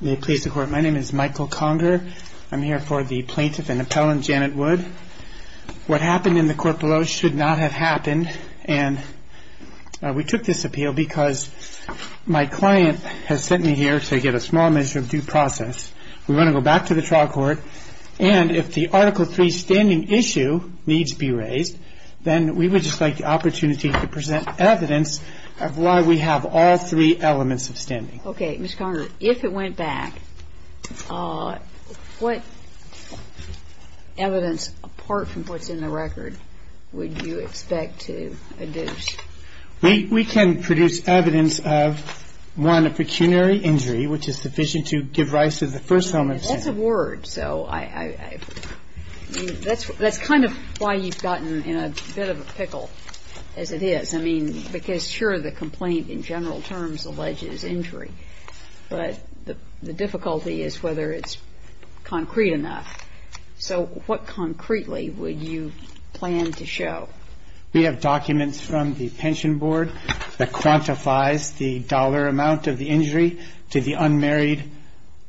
May it please the Court, my name is Michael Conger. I'm here for the plaintiff and appellant Janet Wood. What happened in the court below should not have happened, and we took this appeal because my client has sent me here to get a small measure of due process. We want to go back to the trial court, and if the Article III standing issue needs to be raised, then we would just like the opportunity to present evidence of why we have all three elements of standing. Okay. Ms. Conger, if it went back, what evidence apart from what's in the record would you expect to adduce? We can produce evidence of, one, a pecuniary injury, which is sufficient to give rise to the first element of standing. That's a word, so I mean, that's kind of why you've gotten in a bit of a pickle as it is. I mean, because sure, the complaint in general terms alleges injury, but the difficulty is whether it's concrete enough. So what concretely would you plan to show? We have documents from the pension board that quantifies the dollar amount of the injury to the unmarried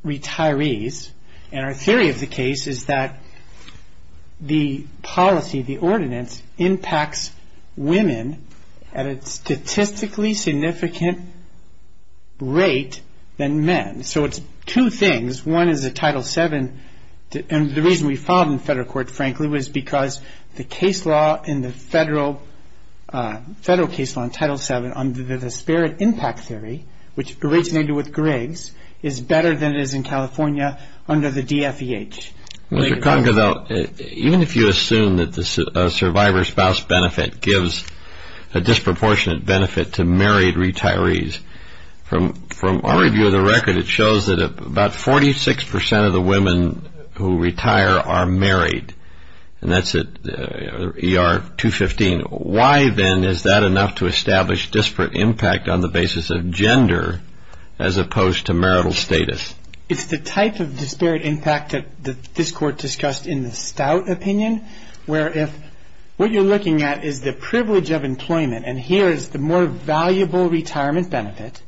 retirees, and our theory of the case is that the policy, the ordinance, impacts women at a statistically significant rate than men. So it's two things. One is the Title VII, and the reason we filed in federal court, frankly, was because the case law in the federal case law in Title VII under the disparate impact theory, which originated with Griggs, is better than it is in California under the DFEH. Mr. Congodale, even if you assume that the survivor spouse benefit gives a disproportionate benefit to married retirees, from our review of the record, it shows that about 46% of the women who retire are married, and that's at ER 215. Why, then, is that enough to establish disparate impact on the basis of gender as opposed to marital status? It's the type of disparate impact that this court discussed in the Stout opinion, where if what you're looking at is the privilege of employment, and here is the more valuable retirement benefit,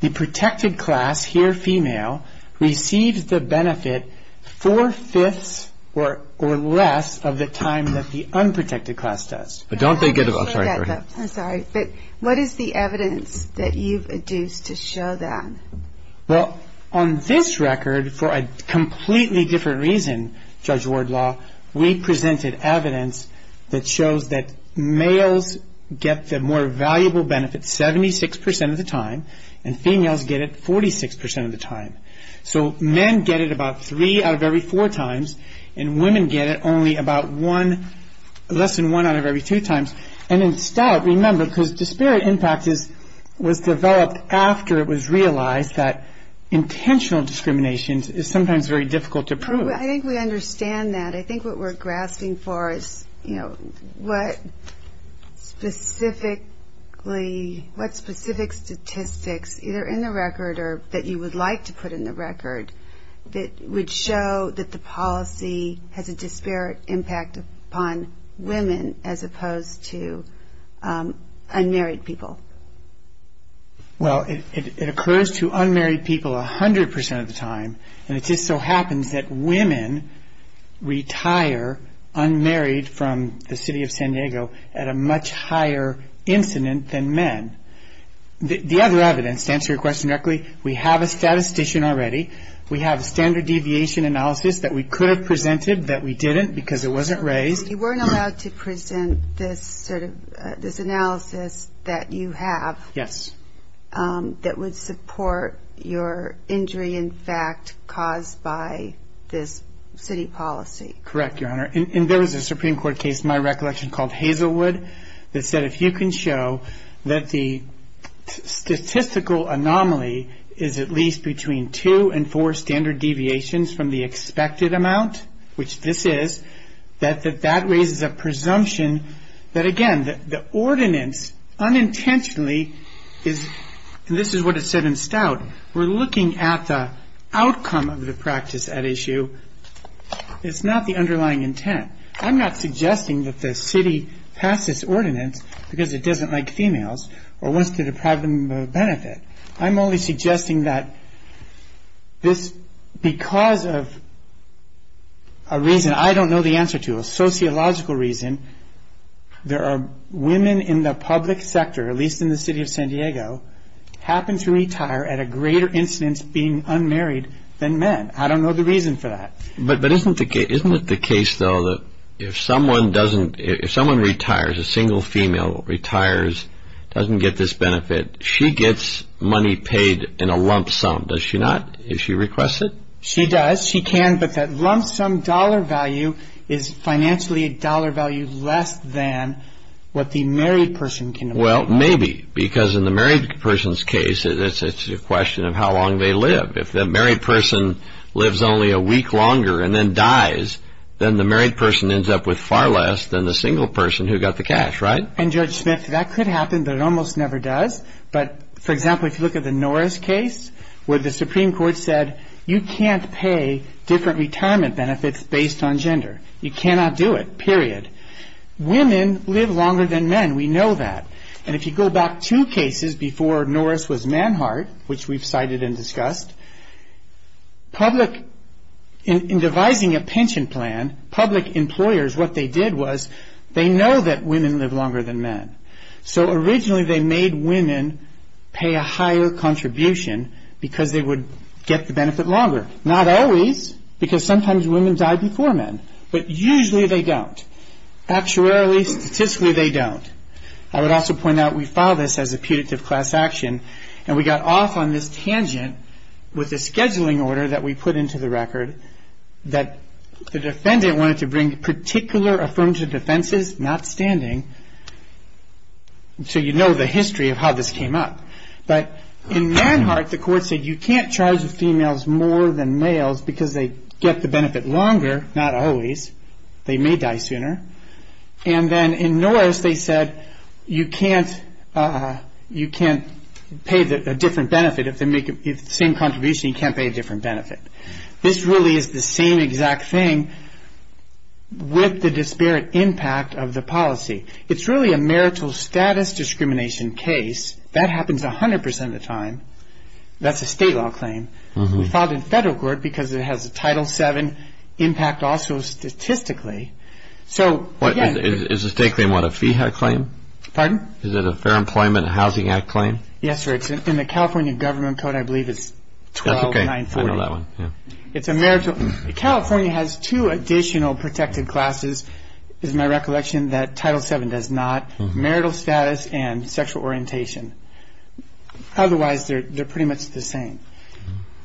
the protected class, here female, receives the benefit four-fifths or less of the time that the unprotected class does. But what is the evidence that you've adduced to show that? Well, on this record, for a completely different reason, Judge Wardlaw, we presented evidence that shows that males get the more valuable benefit 76% of the time, and females get it 46% of the time. So men get it about three out of every four times, and women get it only about one, less than one out of every two times. And in Stout, remember, because disparate impact was developed after it was realized that intentional discrimination is sometimes very difficult to prove. I think we understand that. I think what we're grasping for is, you know, what specific statistics, either in the record or that you would like to put in the record, that would show that the policy has a disparate impact upon women as opposed to unmarried people. Well, it occurs to unmarried people 100% of the time, and it just so happens that women retire unmarried from the city of San Diego at a much higher incident than men. The other evidence, to answer your question directly, we have a statistician already. We have a standard deviation analysis that we could have presented that we didn't because it wasn't raised. You weren't allowed to present this sort of analysis that you have. Yes. That would support your injury, in fact, caused by this city policy. Correct, Your Honor. And there was a Supreme Court case, in my recollection, called Hazelwood, that said if you can show that the statistical anomaly is at least between two and four standard deviations from the expected amount, which this is, that that raises a presumption that, again, the ordinance unintentionally is, and this is what it said in Stout, we're looking at the outcome of the practice at issue. It's not the underlying intent. I'm not suggesting that the city passed this ordinance because it doesn't like females or wants to deprive them of benefit. I'm only suggesting that this, because of a reason I don't know the answer to, a sociological reason, there are women in the public sector, at least in the city of San Diego, happen to retire at a greater incidence being unmarried than men. I don't know the reason for that. But isn't it the case, though, that if someone retires, a single female retires, doesn't get this benefit, she gets money paid in a lump sum, does she not, if she requests it? She does. She can, but that lump sum dollar value is financially a dollar value less than what the married person can afford. Well, maybe, because in the married person's case, it's a question of how long they live. If the married person lives only a week longer and then dies, then the married person ends up with far less than the single person who got the cash, right? And, Judge Smith, that could happen, but it almost never does. But, for example, if you look at the Norris case, where the Supreme Court said, you can't pay different retirement benefits based on gender. You cannot do it, period. Women live longer than men. We know that. And if you go back two cases before Norris was Manhart, which we've cited and discussed, in devising a pension plan, public employers, what they did was, they know that women live longer than men. So, originally, they made women pay a higher contribution because they would get the benefit longer. Not always, because sometimes women die before men, but usually they don't. Actuarially, statistically, they don't. I would also point out, we filed this as a putative class action, and we got off on this tangent with a scheduling order that we put into the record that the defendant wanted to bring particular affirmative defenses, not standing. So you know the history of how this came up. But in Manhart, the court said you can't charge females more than males because they get the benefit longer, not always. They may die sooner. And then in Norris, they said you can't pay a different benefit. If they make the same contribution, you can't pay a different benefit. This really is the same exact thing with the disparate impact of the policy. It's really a marital status discrimination case. That happens 100% of the time. That's a state law claim. We filed in federal court because it has a Title VII impact also statistically. Is the state claim what, a FEHA claim? Pardon? Is it a Fair Employment and Housing Act claim? Yes, sir. In the California government code, I believe it's 12940. It's a marital. California has two additional protected classes, is my recollection, that Title VII does not, marital status and sexual orientation. Otherwise, they're pretty much the same.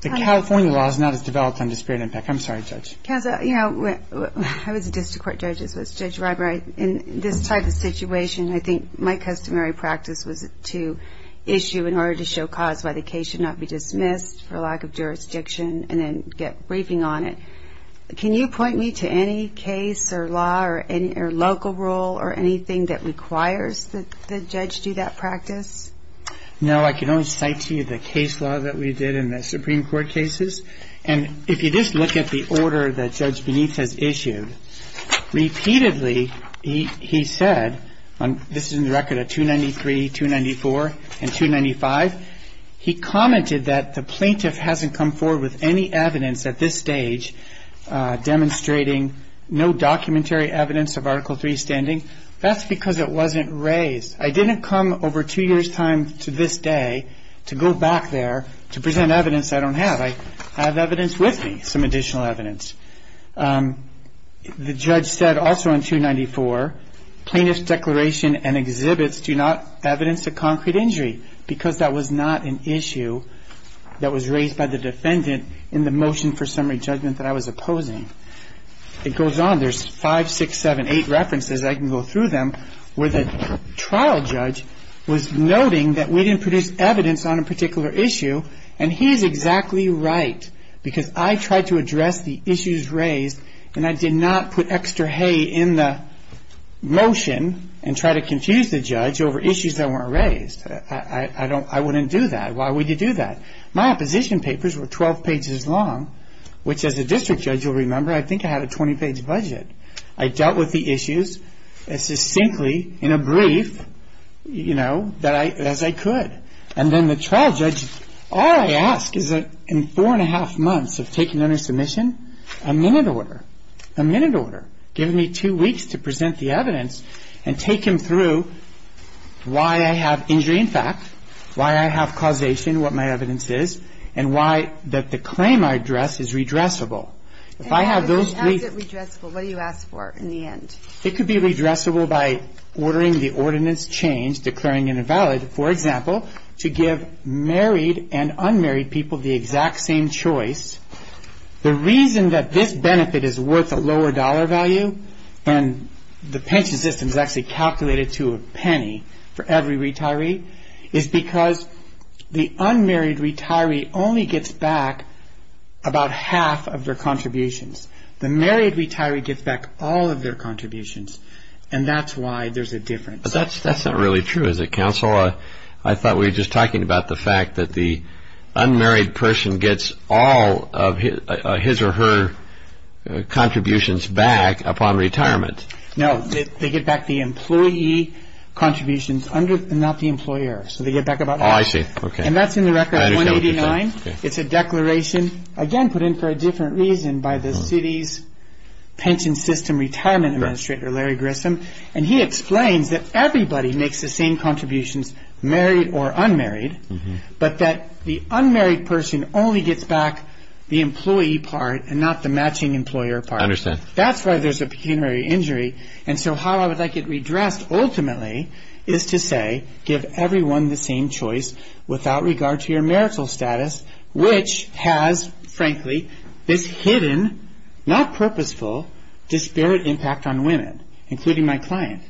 The California law is not as developed on disparate impact. I'm sorry, Judge. Kazza, you know, I was a district court judge as was Judge Ribery. In this type of situation, I think my customary practice was to issue in order to show cause why the case should not be dismissed for lack of jurisdiction and then get briefing on it. Can you point me to any case or law or local rule or anything that requires the judge do that practice? No, I can only cite to you the case law that we did in the Supreme Court cases. And if you just look at the order that Judge Beneath has issued, repeatedly he said, this is in the record of 293, 294, and 295, he commented that the plaintiff hasn't come forward with any evidence at this stage demonstrating no documentary evidence of Article III standing. That's because it wasn't raised. I didn't come over two years' time to this day to go back there to present evidence I don't have. I have evidence with me, some additional evidence. The judge said also on 294, plaintiff's declaration and exhibits do not evidence a concrete injury because that was not an issue that was raised by the defendant in the motion for summary judgment that I was opposing. It goes on. There's five, six, seven, eight references. I can go through them where the trial judge was noting that we didn't produce evidence on a particular issue, and he is exactly right because I tried to address the issues raised and I did not put extra hay in the motion and try to confuse the judge over issues that weren't raised. I wouldn't do that. Why would you do that? My opposition papers were 12 pages long, which as a district judge you'll remember I think I had a 20-page budget. I dealt with the issues as succinctly in a brief as I could. And then the trial judge, all I ask is that in four and a half months of taking on a submission, a minute order, a minute order, give me two weeks to present the evidence and take him through why I have injury in fact, why I have causation, what my evidence is, and why that the claim I address is redressable. How is it redressable? What do you ask for in the end? It could be redressable by ordering the ordinance change, declaring invalid, for example, to give married and unmarried people the exact same choice. The reason that this benefit is worth a lower dollar value and the pension system is actually calculated to a penny for every retiree is because the unmarried retiree only gets back about half of their contributions. The married retiree gets back all of their contributions, and that's why there's a difference. But that's not really true, is it, counsel? I thought we were just talking about the fact that the unmarried person gets all of his or her contributions back upon retirement. No, they get back the employee contributions and not the employer. So they get back about half. Oh, I see. And that's in the record 189. It's a declaration, again, put in for a different reason by the city's pension system retirement administrator, Larry Grissom, and he explains that everybody makes the same contributions, married or unmarried, but that the unmarried person only gets back the employee part and not the matching employer part. That's why there's a pecuniary injury, and so how I would like it redressed ultimately is to say give everyone the same choice without regard to your marital status, which has, frankly, this hidden, not purposeful, disparate impact on women, including my client.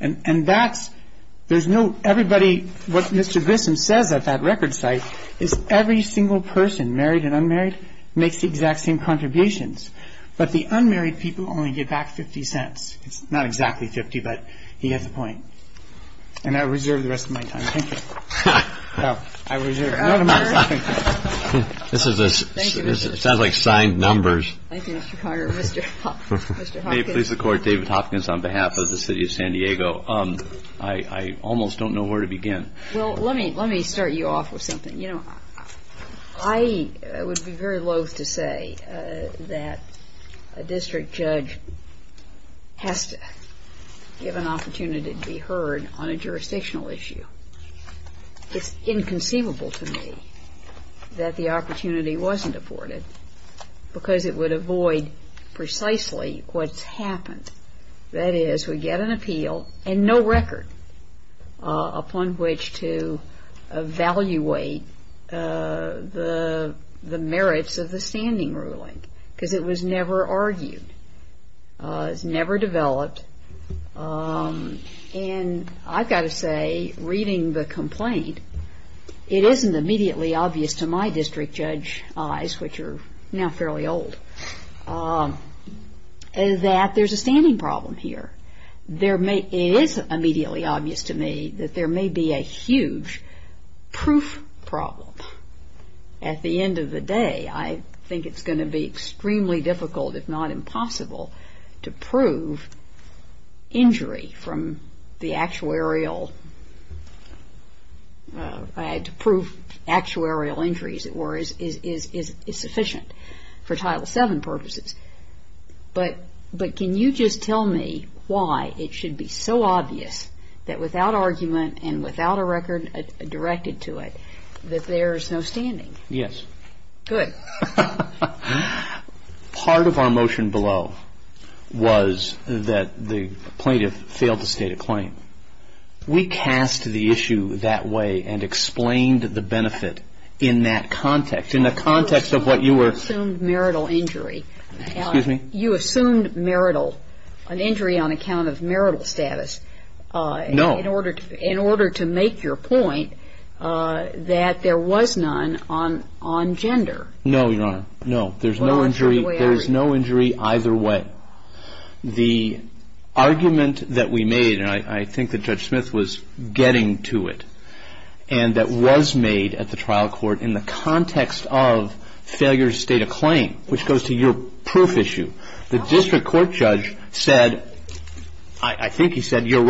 And what Mr. Grissom says at that record site is every single person, married and unmarried, makes the exact same contributions, but the unmarried people only get back $0.50. It's not exactly $0.50, but he gets the point. And I reserve the rest of my time. Thank you. No, I reserve it. This sounds like signed numbers. Thank you, Mr. Conner. May it please the Court, David Hopkins on behalf of the city of San Diego. I almost don't know where to begin. Well, let me start you off with something. You know, I would be very loath to say that a district judge has to give an opportunity to be heard on a jurisdictional issue. It's inconceivable to me that the opportunity wasn't afforded because it would avoid precisely what's happened. That is, we get an appeal and no record upon which to evaluate the merits of the standing ruling because it was never argued. It was never developed. And I've got to say, reading the complaint, it isn't immediately obvious to my district judge eyes, which are now fairly old, that there's a standing problem here. It is immediately obvious to me that there may be a huge proof problem. At the end of the day, I think it's going to be extremely difficult, if not impossible, to prove injury from the actuarial injuries that were insufficient for Title VII purposes. But can you just tell me why it should be so obvious that without argument and without a record directed to it that there's no standing? Yes. Good. Part of our motion below was that the plaintiff failed to state a claim. We cast the issue that way and explained the benefit in that context, in the context of what you were ---- You assumed marital injury. Excuse me? You assumed marital, an injury on account of marital status. No. In order to make your point that there was none on gender. No, Your Honor. No. There's no injury either way. The argument that we made, and I think that Judge Smith was getting to it, and that was made at the trial court in the context of failure to state a claim, which goes to your proof issue, the district court judge said, I think he said, Here's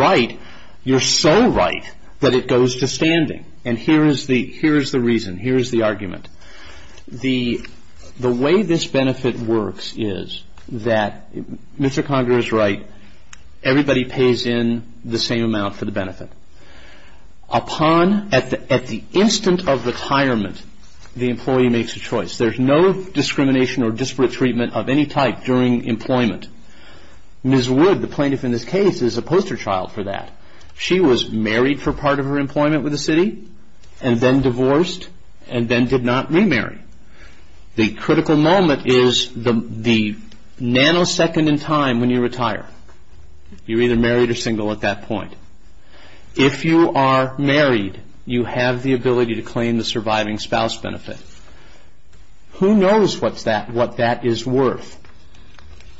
the reason. Here's the argument. The way this benefit works is that Mr. Conger is right. Everybody pays in the same amount for the benefit. Upon, at the instant of retirement, the employee makes a choice. There's no discrimination or disparate treatment of any type during employment. Ms. Wood, the plaintiff in this case, is a poster child for that. She was married for part of her employment with the city, and then divorced, and then did not remarry. The critical moment is the nanosecond in time when you retire. You're either married or single at that point. If you are married, you have the ability to claim the surviving spouse benefit. Who knows what that is worth?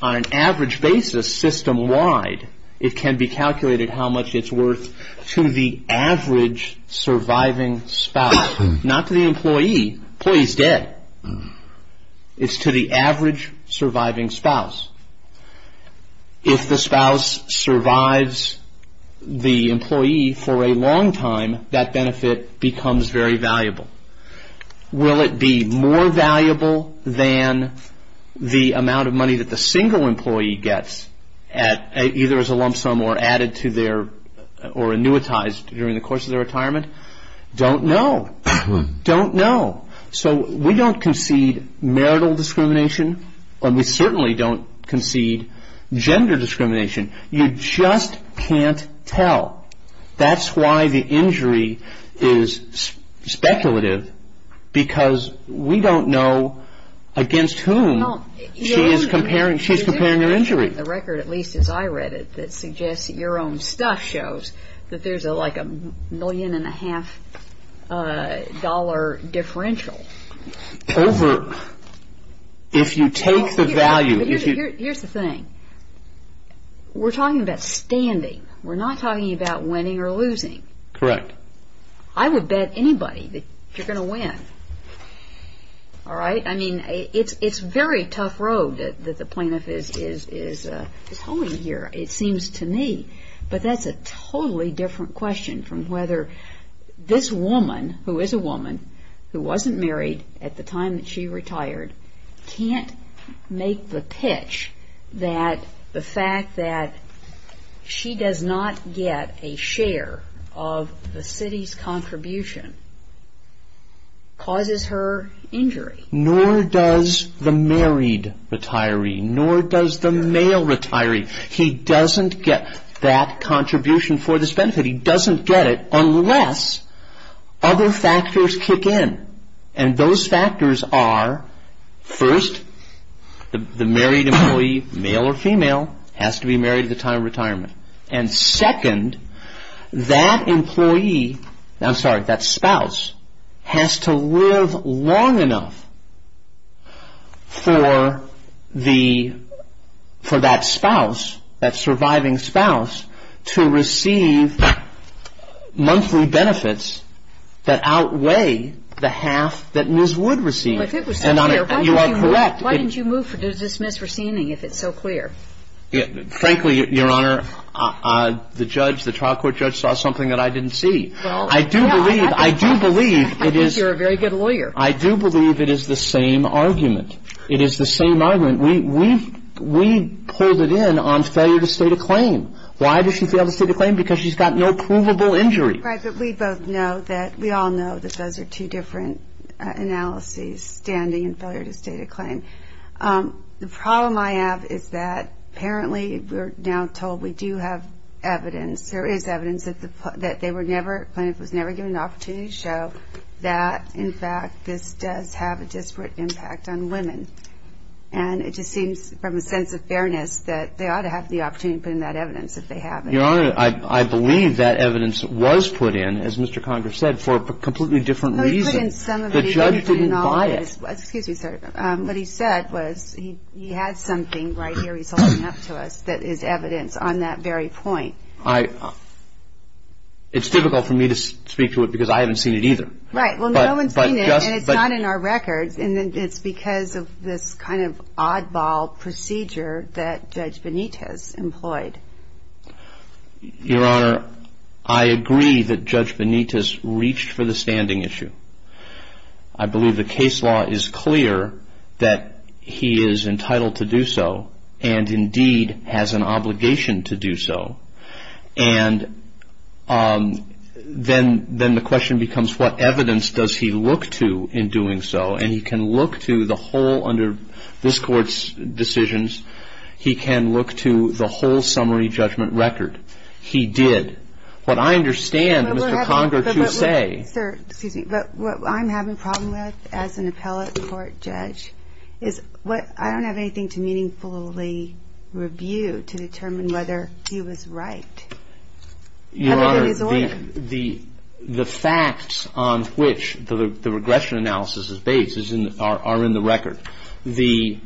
On an average basis, system-wide, it can be calculated how much it's worth to the average surviving spouse. Not to the employee. Employee's dead. It's to the average surviving spouse. If the spouse survives the employee for a long time, that benefit becomes very valuable. Will it be more valuable than the amount of money that the single employee gets, either as a lump sum or added to their, or annuitized during the course of their retirement? Don't know. Don't know. So we don't concede marital discrimination, and we certainly don't concede gender discrimination. You just can't tell. That's why the injury is speculative, because we don't know against whom she's comparing her injury. There's a record, at least as I read it, that suggests that your own stuff shows that there's like a million and a half dollar differential. Over, if you take the value. Here's the thing. We're talking about standing. We're not talking about winning or losing. Correct. I would bet anybody that you're going to win. All right? I mean, it's a very tough road that the plaintiff is holding here, it seems to me. But that's a totally different question from whether this woman, who is a woman, who wasn't married at the time that she retired, can't make the pitch that the fact that she does not get a share of the city's contribution causes her injury. Nor does the married retiree, nor does the male retiree. He doesn't get that contribution for this benefit. He doesn't get it unless other factors kick in. And those factors are, first, the married employee, male or female, has to be married at the time of retirement. And second, that spouse has to live long enough for that surviving spouse to receive monthly benefits that outweigh the half that Ms. Wood received. If it was so clear, why didn't you move to dismiss receiving if it's so clear? Frankly, Your Honor, the judge, the trial court judge saw something that I didn't see. I do believe it is the same argument. It is the same argument. We pulled it in on failure to state a claim. Why did she fail to state a claim? Because she's got no provable injury. Right. But we both know that we all know that those are two different analyses, standing and failure to state a claim. The problem I have is that apparently we're now told we do have evidence, there is evidence that they were never, the plaintiff was never given the opportunity to show that, in fact, this does have a disparate impact on women. And it just seems from a sense of fairness that they ought to have the opportunity to put in that evidence if they have it. Your Honor, I believe that evidence was put in, as Mr. Conger said, for a completely different reason. The judge didn't buy it. Excuse me, sir. What he said was he had something right here he's holding up to us that is evidence on that very point. It's difficult for me to speak to it because I haven't seen it either. Right. Well, no one's seen it, and it's not in our records. And it's because of this kind of oddball procedure that Judge Benitez employed. Your Honor, I agree that Judge Benitez reached for the standing issue. I believe the case law is clear that he is entitled to do so and, indeed, has an obligation to do so. And then the question becomes, what evidence does he look to in doing so? And he can look to the whole under this Court's decisions. He can look to the whole summary judgment record. He did. What I understand, Mr. Conger, what you say. Sir, excuse me. But what I'm having a problem with as an appellate court judge is I don't have anything to meaningfully review to determine whether he was right. Your Honor, the facts on which the regression analysis is based are in the record. You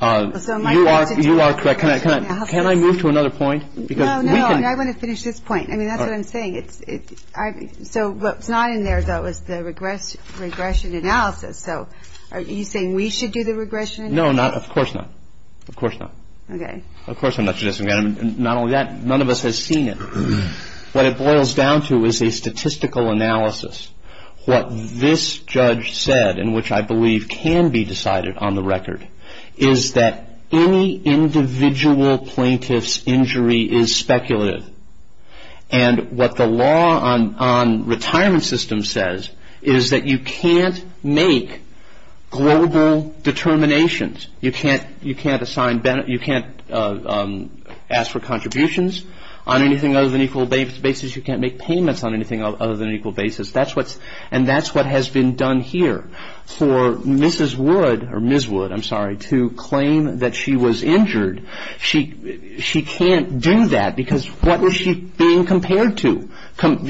are correct. Can I move to another point? No, no. I want to finish this point. I mean, that's what I'm saying. So what's not in there, though, is the regression analysis. So are you saying we should do the regression analysis? No, of course not. Of course not. Okay. Of course I'm not suggesting that. None of us has seen it. What it boils down to is a statistical analysis. What this judge said, and which I believe can be decided on the record, is that any individual plaintiff's injury is speculative. And what the law on retirement systems says is that you can't make global determinations. You can't ask for contributions on anything other than equal basis. You can't make payments on anything other than equal basis. And that's what has been done here. For Mrs. Wood, or Ms. Wood, I'm sorry, to claim that she was injured, she can't do that because what was she being compared to?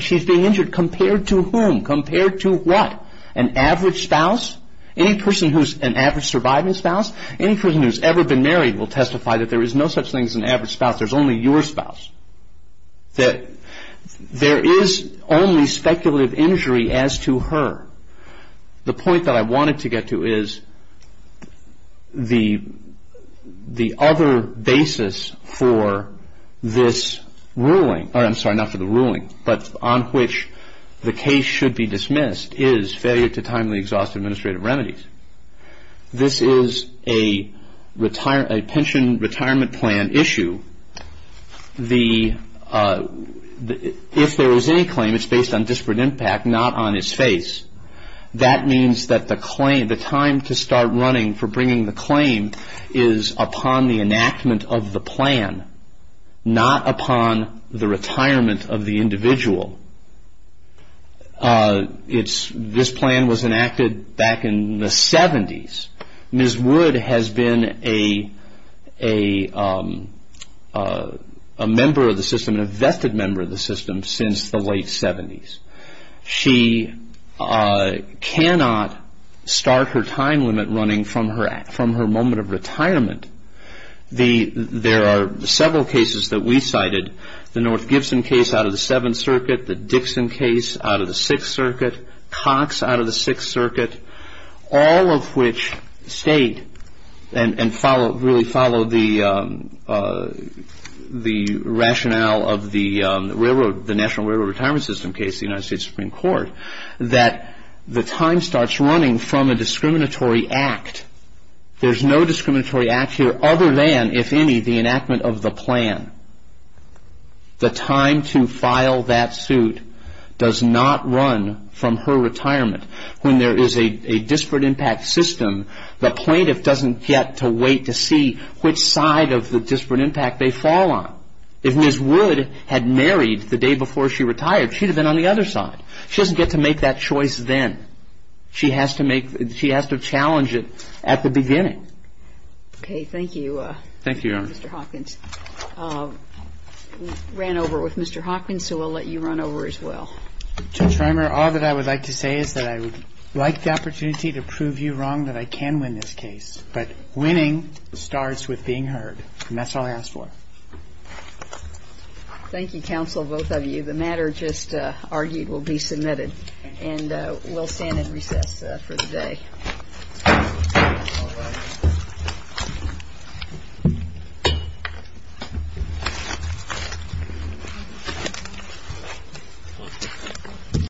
She's being injured. Compared to whom? Compared to what? An average spouse? Any person who's an average surviving spouse? Any person who's ever been married will testify that there is no such thing as an average spouse. There's only your spouse. That there is only speculative injury as to her. The point that I wanted to get to is the other basis for this ruling, or I'm sorry, not for the ruling, but on which the case should be dismissed is failure to timely exhaust administrative remedies. This is a pension retirement plan issue. If there is any claim, it's based on disparate impact, not on its face. That means that the claim, the time to start running for bringing the claim is upon the enactment of the plan, not upon the retirement of the individual. This plan was enacted back in the 70s. Ms. Wood has been a vested member of the system since the late 70s. She cannot start her time limit running from her moment of retirement. There are several cases that we cited, the North Gibson case out of the Seventh Circuit, the Dixon case out of the Sixth Circuit, Cox out of the Sixth Circuit, all of which state and really follow the rationale of the National Railroad Retirement System case, the United States Supreme Court, that the time starts running from a discriminatory act. There's no discriminatory act here other than, if any, the enactment of the plan. The time to file that suit does not run from her retirement. When there is a disparate impact system, the plaintiff doesn't get to wait to see which side of the disparate impact they fall on. If Ms. Wood had married the day before she retired, she'd have been on the other side. She doesn't get to make that choice then. She has to challenge it at the beginning. Okay. Thank you, Mr. Hawkins. Thank you, Your Honor. We ran over with Mr. Hawkins, so we'll let you run over as well. Judge Rimer, all that I would like to say is that I would like the opportunity to prove you wrong, that I can win this case. But winning starts with being heard, and that's all I ask for. Thank you, counsel, both of you. The matter just argued will be submitted. And we'll stand at recess for the day.